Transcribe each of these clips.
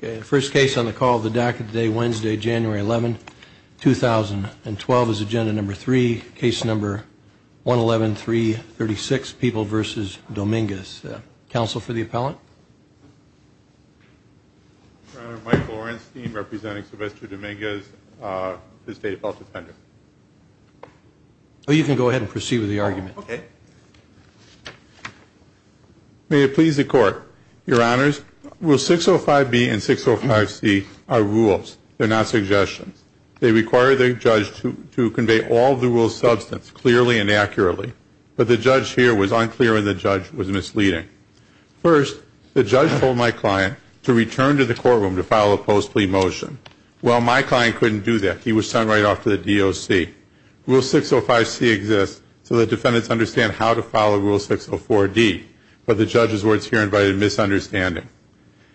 The first case on the call of the DACA today, Wednesday, January 11, 2012, is agenda number three, case number 11136, People v. Dominguez. Counsel for the appellant? Michael Orenstein, representing Sylvester Dominguez, the State Appeal Defender. Oh, you can go ahead and proceed with the argument. Okay. May it be so. Rule 605B and 605C are rules. They're not suggestions. They require the judge to convey all the rule's substance clearly and accurately, but the judge here was unclear and the judge was misleading. First, the judge told my client to return to the courtroom to file a post-plea motion. Well, my client couldn't do that. He was sent right off to the DOC. Rule 605C exists so the defendants understand how to follow Rule 604D, but the judge's words here provided misunderstanding.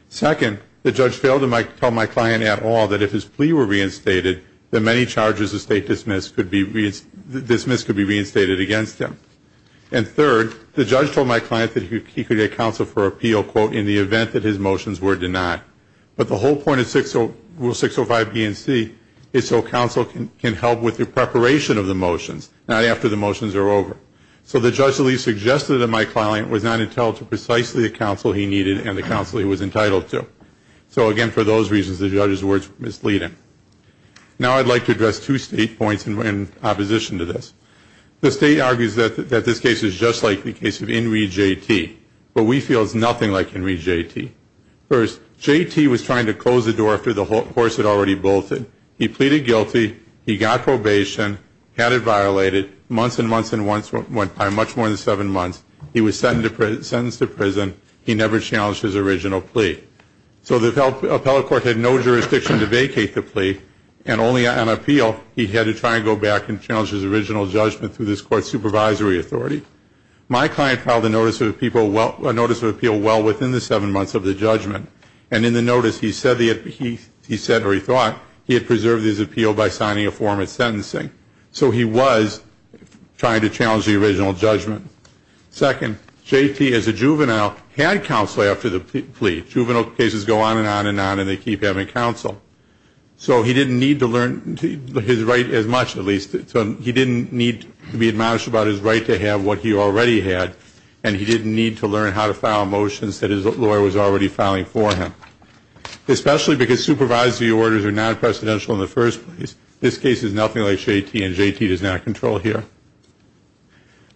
Second, the judge failed to tell my client at all that if his plea were reinstated, that many charges of state dismiss could be reinstated against him. And third, the judge told my client that he could get counsel for appeal, quote, in the event that his motions were denied. But the whole point of Rule 605B and 605C is so counsel can help with the preparation of the motions, not after the motions are over. So the judge at least suggested that my client was not entitled to precisely the counsel he needed and the counsel he was entitled to. So again, for those reasons, the judge's words were misleading. Now I'd like to address two state points in opposition to this. The state argues that this case is just like the case of In Re JT, but we feel it's nothing like In Re JT. First, JT was trying to close the door after the horse had already bolted. He pleaded guilty, he got probation, had it violated, months and months and months went by, much more than seven months. He was sentenced to prison. He never challenged his original plea. So the appellate court had no jurisdiction to vacate the plea, and only on appeal he had to try and go back and challenge his original judgment through this court's supervisory authority. My client filed a notice of appeal well within the seven months of the judgment, and in the notice he said, or he thought, he had preserved his appeal by signing a form of sentencing. So he was trying to challenge the original judgment. Second, JT, as a juvenile, had counsel after the plea. Juvenile cases go on and on and on, and they keep having counsel. So he didn't need to learn his right as much, at least. He didn't need to be admonished about his right to have what he already had, and he didn't need to learn how to file motions that his lawyer was already filing for him. Especially because supervisory orders are non-presidential in the first place. This case is nothing like JT, and JT does not control here.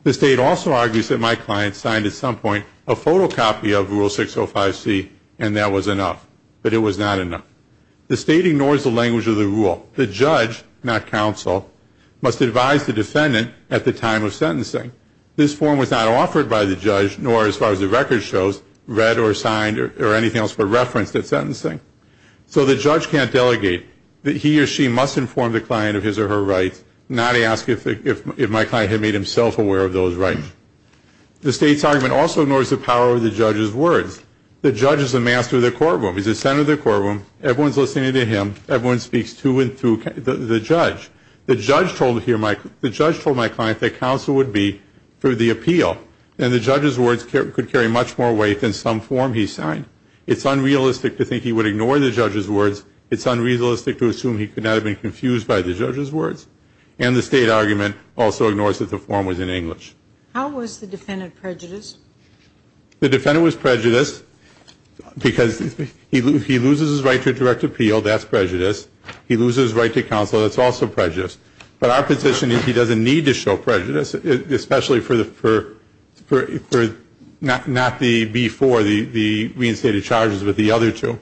The State also argues that my client signed at some point a photocopy of Rule 605C, and that was enough. But it was not enough. The State ignores the language of the rule. The judge, not counsel, must advise the defendant at the time of sentencing. This form was not offered by the judge, nor, as far as the record shows, read or signed or anything else but referenced at sentencing. So the judge can't delegate. He or she must inform the client of his or her rights, not ask if my client had made himself aware of those rights. The State's argument also ignores the power of the judge's words. The judge is the master of the courtroom. He's the center of the courtroom. Everyone's listening to him. Everyone speaks to and through the judge. The judge told here my, the judge told my client that counsel would be through the appeal, and the judge's words could carry much more weight than some form he signed. It's unrealistic to think he would ignore the judge's words. It's unrealistic to assume he could not have been confused by the judge's words. And the State argument also ignores that the form was in English. How was the defendant prejudiced? The defendant was prejudiced because he loses his right to direct appeal. That's prejudice. He loses his right to counsel. That's also prejudice. But our position is he doesn't need to show prejudice, especially for the, for, for, not, not the before, the, the reinstated charges, but the other two.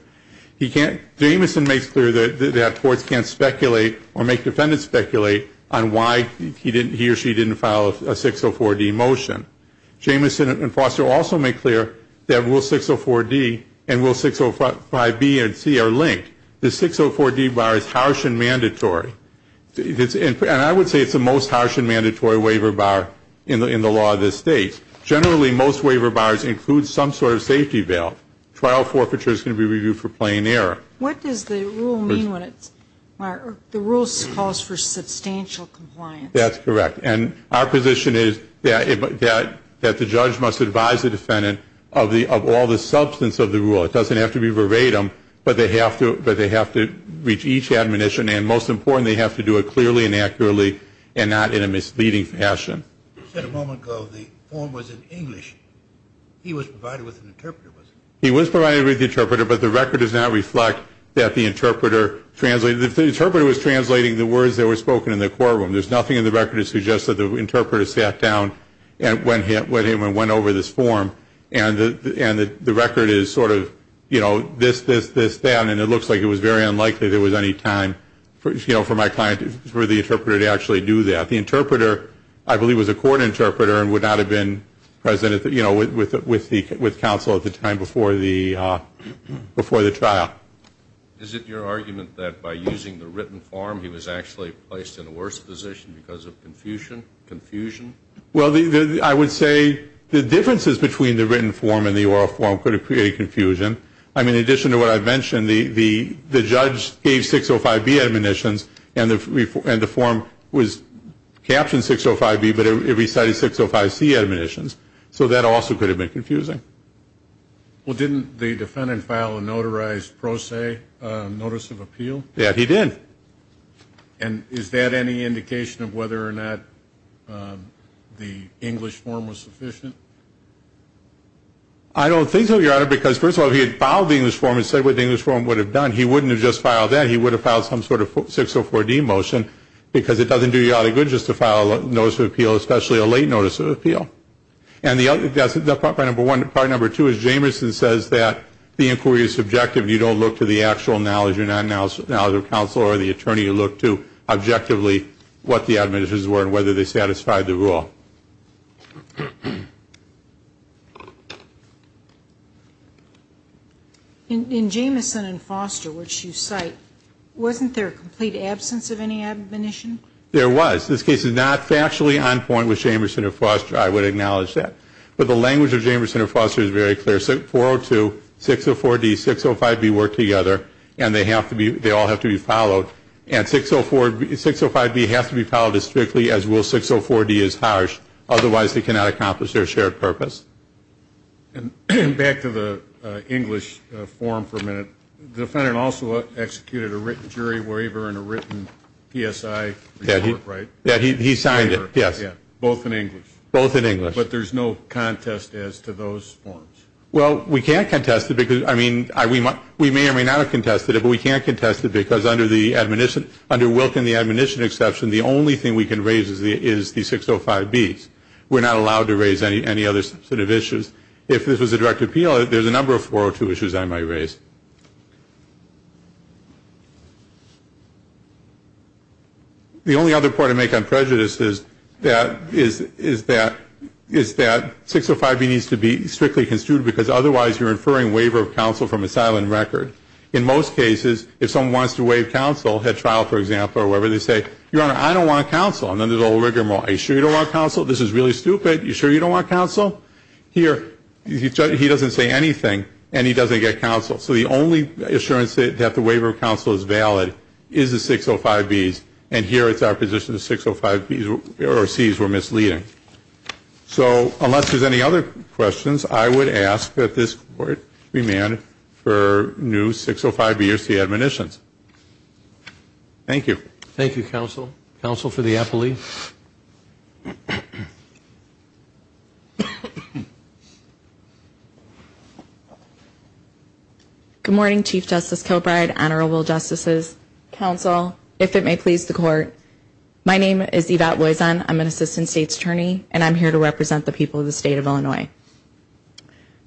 He can't, Jameson makes clear that, that courts can't speculate or make defendants speculate on why he didn't, he or she didn't file a 604D motion. Jameson and Foster also make clear that Rule 604D and Rule 605B and C are linked. The 604D bar is harsh and mandatory. And I would say it's the most harsh and mandatory waiver bar in the, in the law of this State. Generally, most waiver bars include some sort of safety bail. Trial forfeiture is going to be reviewed for plain error. What does the rule mean when it's, the rule calls for substantial compliance? That's correct. And our position is that, that, that the judge must advise the defendant of the, of all the substance of the rule. It doesn't have to be veratum, but they have to, but they have to reach each admonition. And most important, they have to do it clearly and accurately and not in a misleading fashion. You said a moment ago the form was in English. He was provided with an interpreter, wasn't he? He was provided with the interpreter, but the record does not reflect that the interpreter translated, that the interpreter was translating the words that were spoken in the courtroom. There's nothing in the record that suggests that the interpreter sat down and went, went in and went over this form. And the, and the, the record is sort of, you know, this, this, this, that. And it looks like it was very unlikely there was any time for, you know, for my client, for the interpreter to actually do that. The interpreter, I believe, was a court interpreter and would not have been present at the, you know, with, with, with counsel at the time before the, before the trial. Is it your argument that by using the written form, he was actually placed in a worse position because of confusion, confusion? Well, the, the, I would say the differences between the written form and the oral form could have created confusion. I mean, in addition to what I mentioned, the, the, the judge gave 605B admonitions and the, and the form was captioned 605B, but it recited 605C admonitions. So that also could have been confusing. Well, didn't the defendant file a notarized pro se notice of appeal? Yeah, he did. And is that any indication of whether or not the English form was sufficient? I don't think so, Your Honor, because first of all, if he had filed the English form and said what the English form would have done, he wouldn't have just filed that. He would have filed some sort of 604D motion because it doesn't do you any good just to file a notice of appeal, especially a late notice of appeal. Part number one, part number two is Jamerson says that the inquiry is subjective and you don't look to the actual knowledge or non-knowledge of counsel or the attorney. You look to objectively what the admonitions were and whether they satisfied the rule. In Jamerson and Foster, which you cite, wasn't there a complete absence of any admonition? There was. This case is not factually on point with Jamerson and Foster. I would acknowledge that. But the language of Jamerson and Foster is very clear. 602, 604D, 605B work together and they all have to be followed. And 605B has to be followed as strictly as will 604D as harsh, otherwise they cannot accomplish their shared purpose. Back to the English form for a minute. The defendant also executed a written jury waiver and a written PSI report, right? He signed it, yes. Both in English? Both in English. But there's no contest as to those forms? Well, we can't contest it because, I mean, we may or may not have contested it, but we can't contest it because under Wilk and the admonition exception, the only thing we can raise is the 605Bs. We're not allowed to raise any other sort of issues. If this was a direct appeal, there's a number of 402 issues I might raise. The only other point I make on prejudice is that 605B needs to be strictly construed because otherwise you're inferring waiver of counsel from a silent record. In most cases, if someone wants to waive counsel at trial, for example, or whatever, they say, Your Honor, I don't want counsel. And then there's a little rigmarole. Are you sure you don't want counsel? This is really stupid. You sure you don't want counsel? Here, he doesn't say So the only assurance that the waiver of counsel is valid is the 605Bs, and here it's our position the 605Bs or Cs were misleading. So unless there's any other questions, I would ask that this Court remand for new 605B or C Good morning, Chief Justice Kilbride, Honorable Justices, Counsel, if it may please the Court. My name is Yvette Loison. I'm an Assistant State's Attorney, and I'm here to represent the people of the state of Illinois.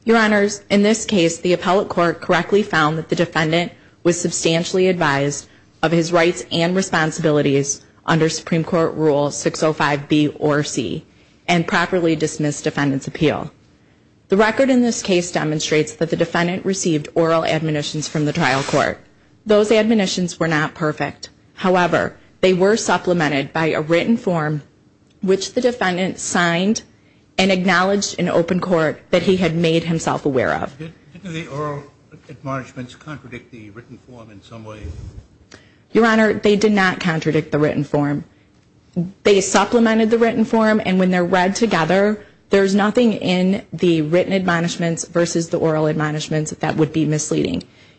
Your Honors, in this case, the appellate court correctly found that the defendant was substantially advised of his rights and responsibilities under Supreme Court Rule 605B or C and properly dismissed defendant's appeal. The record in this case demonstrates that the defendant received oral admonitions from the trial court. Those admonitions were not perfect. However, they were supplemented by a written form which the defendant signed and acknowledged in open court that he had made himself aware of. Didn't the oral admonishments contradict the written form in some way? Your Honor, they did not contradict the written form. They supplemented the written form, and when they're read together, there's nothing in the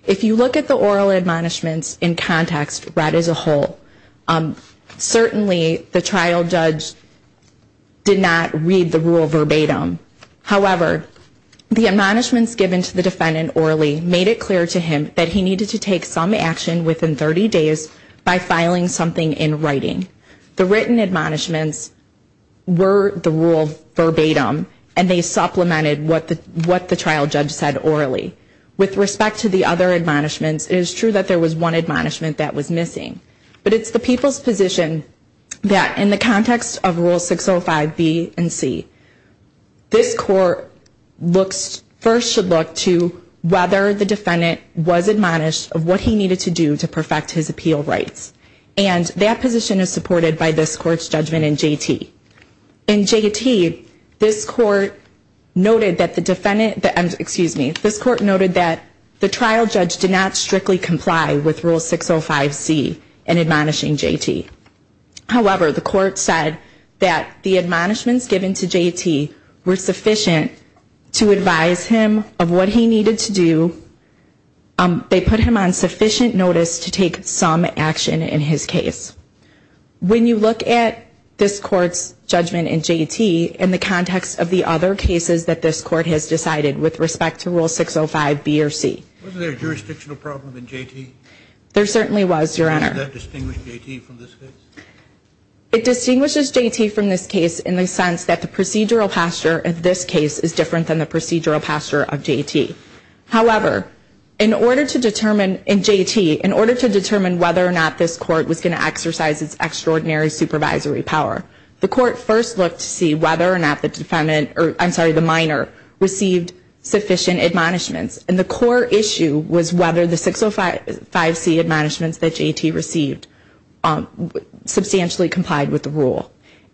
If you look at the oral admonishments in context read as a whole, certainly the trial judge did not read the rule verbatim. However, the admonishments given to the defendant orally made it clear to him that he needed to take some action within 30 days by filing something in writing. The written admonishments were the rule verbatim, and they supplemented what the trial judge said orally. With respect to the other admonishments, it is true that there was one admonishment that was missing. But it's the People's position that in the context of Rule 605B and C, this Court first should look to whether the defendant was admonished of what he needed to do to perfect his appeal rights. And that position is supported by this Court's This Court noted that the trial judge did not strictly comply with Rule 605C in admonishing J.T. However, the Court said that the admonishments given to J.T. were sufficient to advise him of what he needed to do. They put him on sufficient notice to take some action in his case. When you look at this Court's judgment in J.T. in the context of the other cases that respect to Rule 605B or C, it distinguishes J.T. from this case in the sense that the procedural posture of this case is different than the procedural posture of J.T. However, in order to determine in J.T., in order to determine whether or not this Court was going to exercise its extraordinary supervisory power, the Court first looked to see whether or not the minor received sufficient admonishments. And the core issue was whether the 605C admonishments that J.T. received substantially complied with the Rule.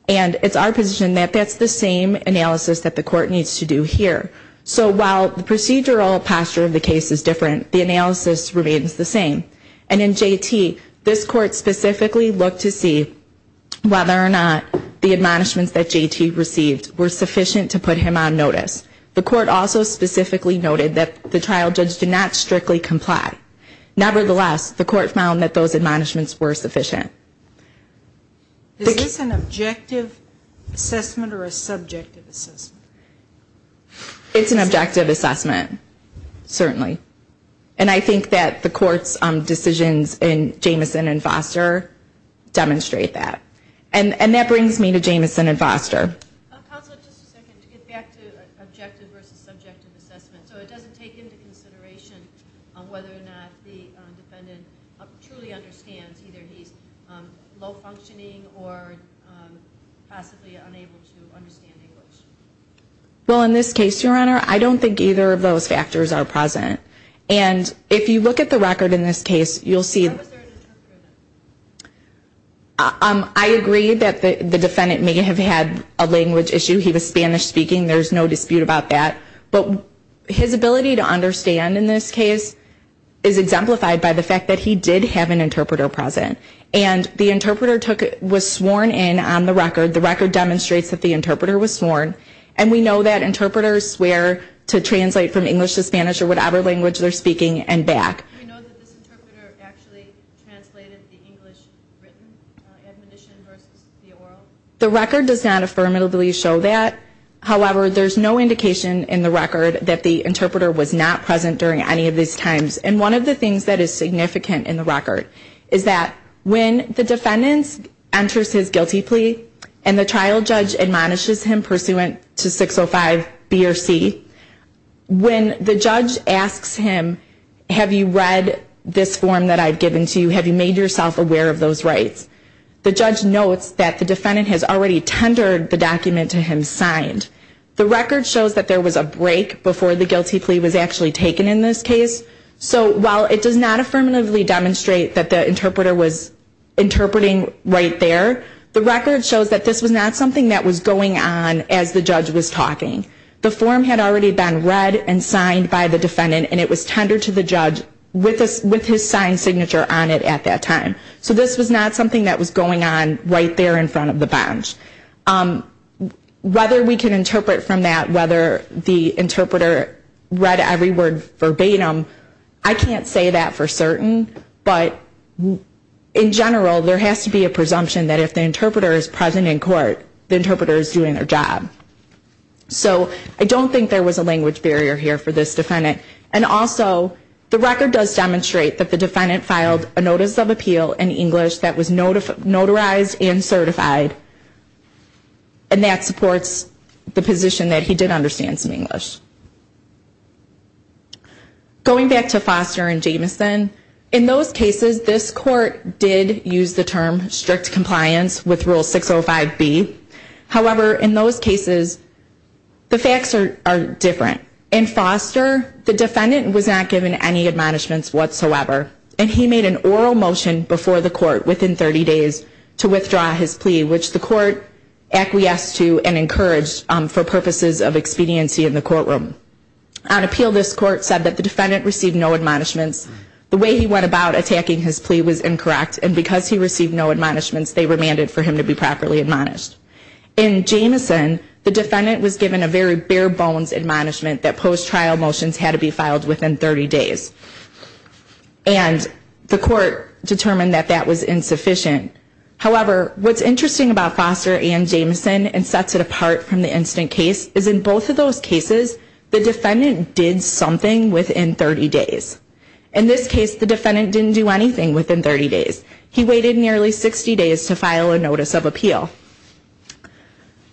And it's our position that that's the same analysis that the Court needs to do here. So while the procedural posture of the case is different, the analysis remains the same. And in J.T., this Court specifically looked to see whether or not the admonishments that J.T. received were sufficient to be noticed. The Court also specifically noted that the trial judge did not strictly comply. Nevertheless, the Court found that those admonishments were sufficient. Is this an objective assessment or a subjective assessment? It's an objective assessment, certainly. And I think that the Court's decisions in Jamison and Foster demonstrate that. And that brings me to Jamison and Foster. Counsel, just a second. To get back to objective versus subjective assessment. So it doesn't take into consideration whether or not the defendant truly understands either he's low-functioning or possibly unable to understand English? Well, in this case, Your Honor, I don't think either of those factors are present. And if you look at the record in this case, you'll see... How is there an interpreter? I agree that the defendant may have had a language issue. He was Spanish-speaking. There's no dispute about that. But his ability to understand in this case is exemplified by the fact that he did have an interpreter present. And the interpreter was sworn in on the record. The record demonstrates that the interpreter was sworn. And we know that interpreters swear to translate from English to Spanish or whatever language they're speaking and back. And we know that this interpreter actually translated the English written admonition versus the oral. The record does not affirmatively show that. However, there's no indication in the record that the interpreter was not present during any of these times. And one of the things that is significant in the record is that when the defendant enters his guilty plea and the trial judge admonishes him pursuant to 605 B or C, when the judge asks him, have you read this form that I've given to you? Have you made yourself aware of those rights? The judge notes that the defendant has already tendered the document to him signed. The record shows that there was a break before the guilty plea was actually taken in this case. So while it does not affirmatively demonstrate that the interpreter was interpreting right there, the record shows that this was not something that was going on as the judge was talking. The form had already been read and signed by the defendant and it was tendered to the judge with his signed signature on it at that time. So this was not something that was going on right there in front of the bench. Whether we can interpret from that whether the interpreter read every word verbatim, I can't say that for certain. But in general, there has to be a presumption that if the interpreter is present in court, the interpreter is doing their job. So I don't think there was a language barrier here for this defendant. And also, the record does demonstrate that the defendant filed a notice of appeal in English that was notarized and certified. And that supports the position that he did understand some English. Going back to Foster and Jamison, in those cases, this court did use the same wording. In those cases, the facts are different. In Foster, the defendant was not given any admonishments whatsoever. And he made an oral motion before the court within 30 days to withdraw his plea, which the court acquiesced to and encouraged for purposes of expediency in the courtroom. On appeal, this court said that the defendant received no admonishments. The way he went about attacking his plea was incorrect. And because he received no admonishments, they remanded for him to be properly admonished. In Jamison, the defendant was given a very bare bones admonishment that post-trial motions had to be filed within 30 days. And the court determined that that was insufficient. However, what's interesting about Foster and Jamison and sets it apart from the incident case is in both of those cases, the defendant did something within 30 days. In this case, the defendant didn't do anything within 30 days. He waited nearly 60 days to file a notice of appeal.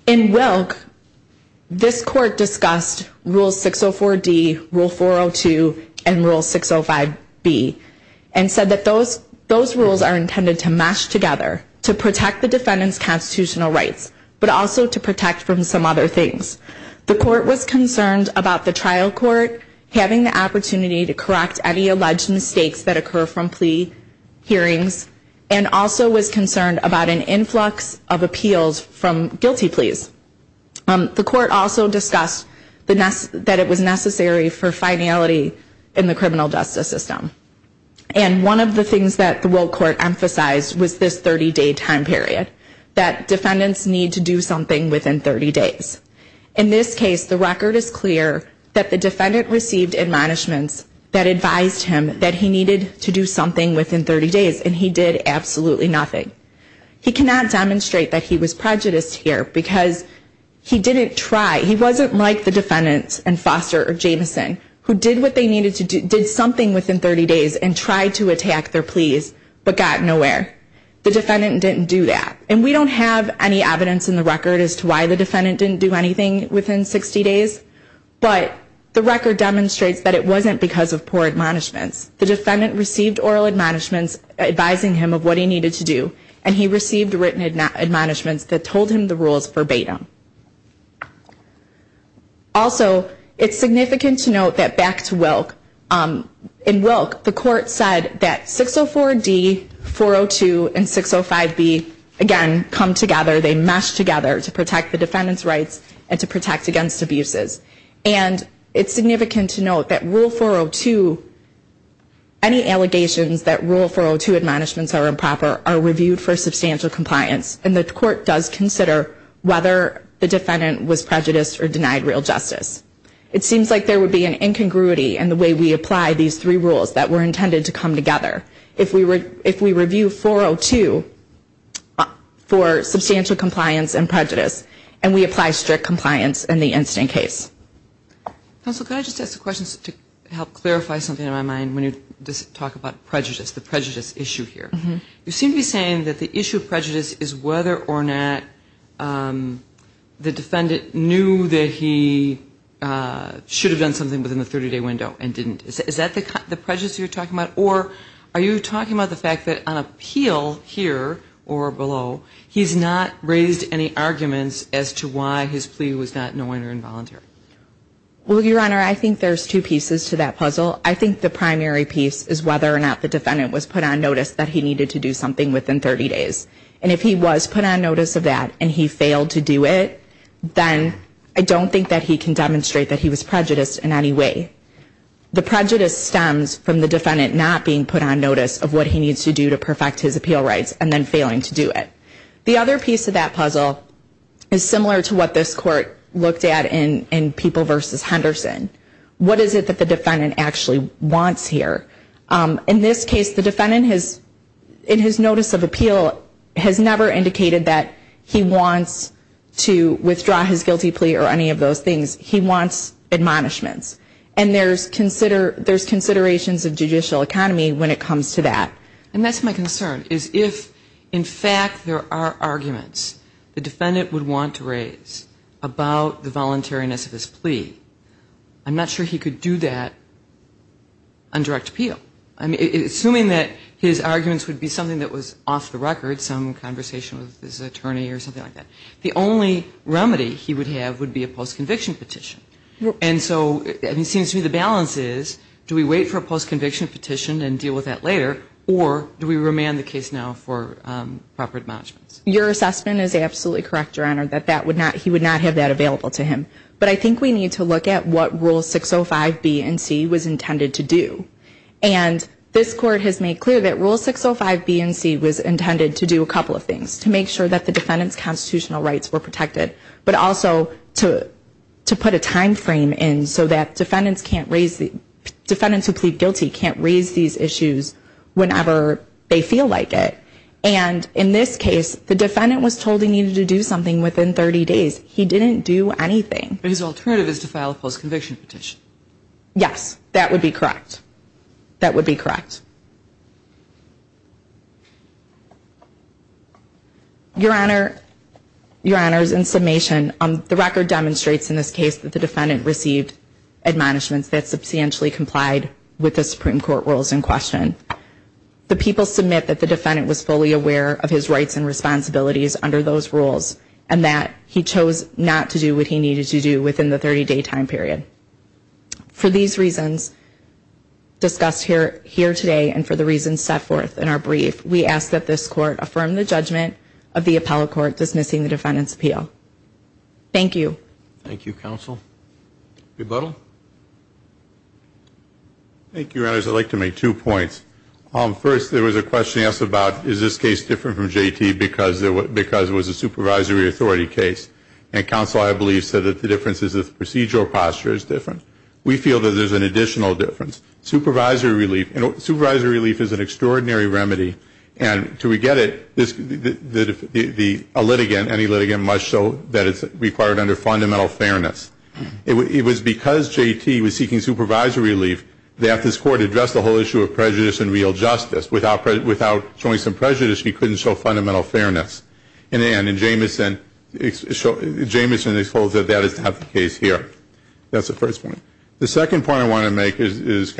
In Wilk, this court discussed Rule 604D, Rule 402, and Rule 605B, and said that those rules are intended to mesh together to protect the defendant's constitutional rights, but also to protect from some other things. The court was concerned about the trial court having the hearings and also was concerned about an influx of appeals from guilty pleas. The court also discussed that it was necessary for finality in the criminal justice system. And one of the things that the Wilk court emphasized was this 30-day time period, that defendants need to do something within 30 days. In this case, the record is clear that the defendant received admonishments that advised him that he needed to do something within 30 days, and he did absolutely nothing. He cannot demonstrate that he was prejudiced here, because he didn't try. He wasn't like the defendants in Foster or Jamison, who did what they needed to do, did something within 30 days and tried to attack their pleas, but got nowhere. The defendant didn't do that. And we don't have any evidence in the record as to why the defendant didn't do anything within 60 days, but the record demonstrates that it wasn't because of poor admonishments. The defendant received oral admonishments advising him of what he needed to do, and he received written admonishments that told him the rules verbatim. Also, it's significant to note that back to Wilk, in Wilk, the court said that 604D, 402, and 605B, again, come together. They mesh together to protect the defendant's rights and to protect the defendant's rights. In rule 402, any allegations that rule 402 admonishments are improper are reviewed for substantial compliance, and the court does consider whether the defendant was prejudiced or denied real justice. It seems like there would be an incongruity in the way we apply these three rules that were intended to come together. If we review 402 for substantial compliance and prejudice, and we apply strict compliance in the incident case. Counsel, could I just ask a question to help clarify something in my mind when you talk about prejudice, the prejudice issue here. You seem to be saying that the issue of prejudice is whether or not the defendant knew that he should have done something within the 30-day window and didn't. Is that the prejudice you're talking about, or are you talking about the fact that on appeal here or below, he's not raised any arguments as to why his plea was denied? Or is that knowing or involuntary? Well, Your Honor, I think there's two pieces to that puzzle. I think the primary piece is whether or not the defendant was put on notice that he needed to do something within 30 days. And if he was put on notice of that and he failed to do it, then I don't think that he can demonstrate that he was prejudiced in any way. The prejudice stems from the defendant not being put on notice of what he needs to do to perfect his appeal rights and then looked at in People v. Henderson. What is it that the defendant actually wants here? In this case, the defendant has, in his notice of appeal, has never indicated that he wants to withdraw his guilty plea or any of those things. He wants admonishments. And there's considerations of judicial economy when it comes to that. And that's my concern, is if in fact there are arguments the defendant would want to raise about the voluntariness of his plea, I'm not sure he could do that on direct appeal. I mean, assuming that his arguments would be something that was off the record, some conversation with his attorney or something like that, the only remedy he would have would be a post-conviction petition. And so it seems to me the balance is do we wait for a post-conviction petition and deal with that later, or do we remand the case now for proper admonishments? Your assessment is absolutely correct, Your Honor, that he would not have that available to him. But I think we need to look at what Rule 605B and C was intended to do. And this Court has made clear that Rule 605B and C was intended to do a couple of things, to make sure that the defendant's constitutional rights were protected, but also to put a time frame in so that defendants who plead guilty can't raise these issues whenever they feel like it. And in this case, the defendant was told he needed to do something within 30 days. He didn't do anything. But his alternative is to file a post-conviction petition. Yes, that would be correct. That would be correct. Your Honor, Your Honor, in summation, the record demonstrates in this case that the defendant received admonishments that substantially complied with the Supreme Court rules in question. The people submit that the defendant was fully aware of his rights and responsibilities under those rules, and that he chose not to do what he needed to do within the 30-day time period. For these reasons discussed here today, and for the reasons set forth in our brief, we ask that this Court affirm the judgment of the Appellate Court dismissing the defendant's appeal. Thank you. Thank you, Counsel. Rebuttal? Thank you, Your Honors. I'd like to make two points. First, there was a question asked about is this case different from J.T. because it was a supervisory authority case. And Counsel, I believe, said that the difference is the procedural posture is different. We feel that there's an additional difference. Supervisory relief is an extraordinary remedy. And to reget it, a litigant, any litigant, must show that J.T. was seeking supervisory relief that this Court addressed the whole issue of prejudice and real justice. Without showing some prejudice, he couldn't show fundamental fairness. And then, in Jamison, Jamison exposed that that is not the case here. That's the first point. The second point I want to make is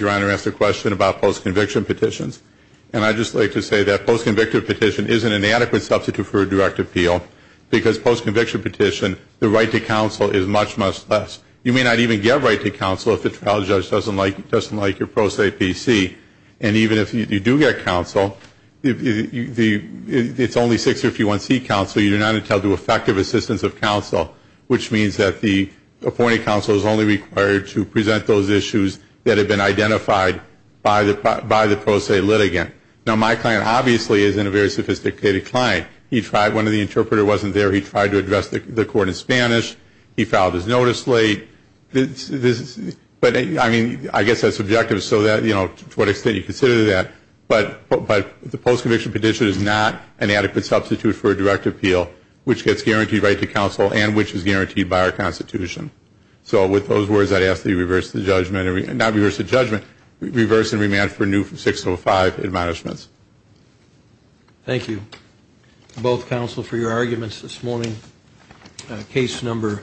Your Honor asked a question about post-conviction petitions. And I'd just like to say that post-conviction petition isn't an adequate substitute for a direct appeal because post-conviction petition, the right to counsel is much, much less. You may not even get right to counsel if the trial judge doesn't like your pro se PC. And even if you do get counsel, it's only 651C counsel. You're not entitled to effective assistance of counsel, which means that the appointed counsel is only required to present those issues that have been identified by the pro se litigant. Now, my client, obviously, isn't a very sophisticated client. One of the interpreters wasn't there. He tried to address the Court in But, I mean, I guess that's subjective so that, you know, to what extent you consider that. But the post-conviction petition is not an adequate substitute for a direct appeal, which gets guaranteed right to counsel and which is guaranteed by our Constitution. So with those words, I'd ask that you reverse the judgment, not reverse the judgment, reverse and remand for new 605 admonishments. Thank you, both counsel, for your arguments this morning. Case number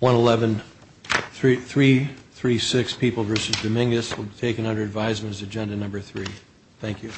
111336, People v. Dominguez, will be taken under advisement as agenda number three. Thank you.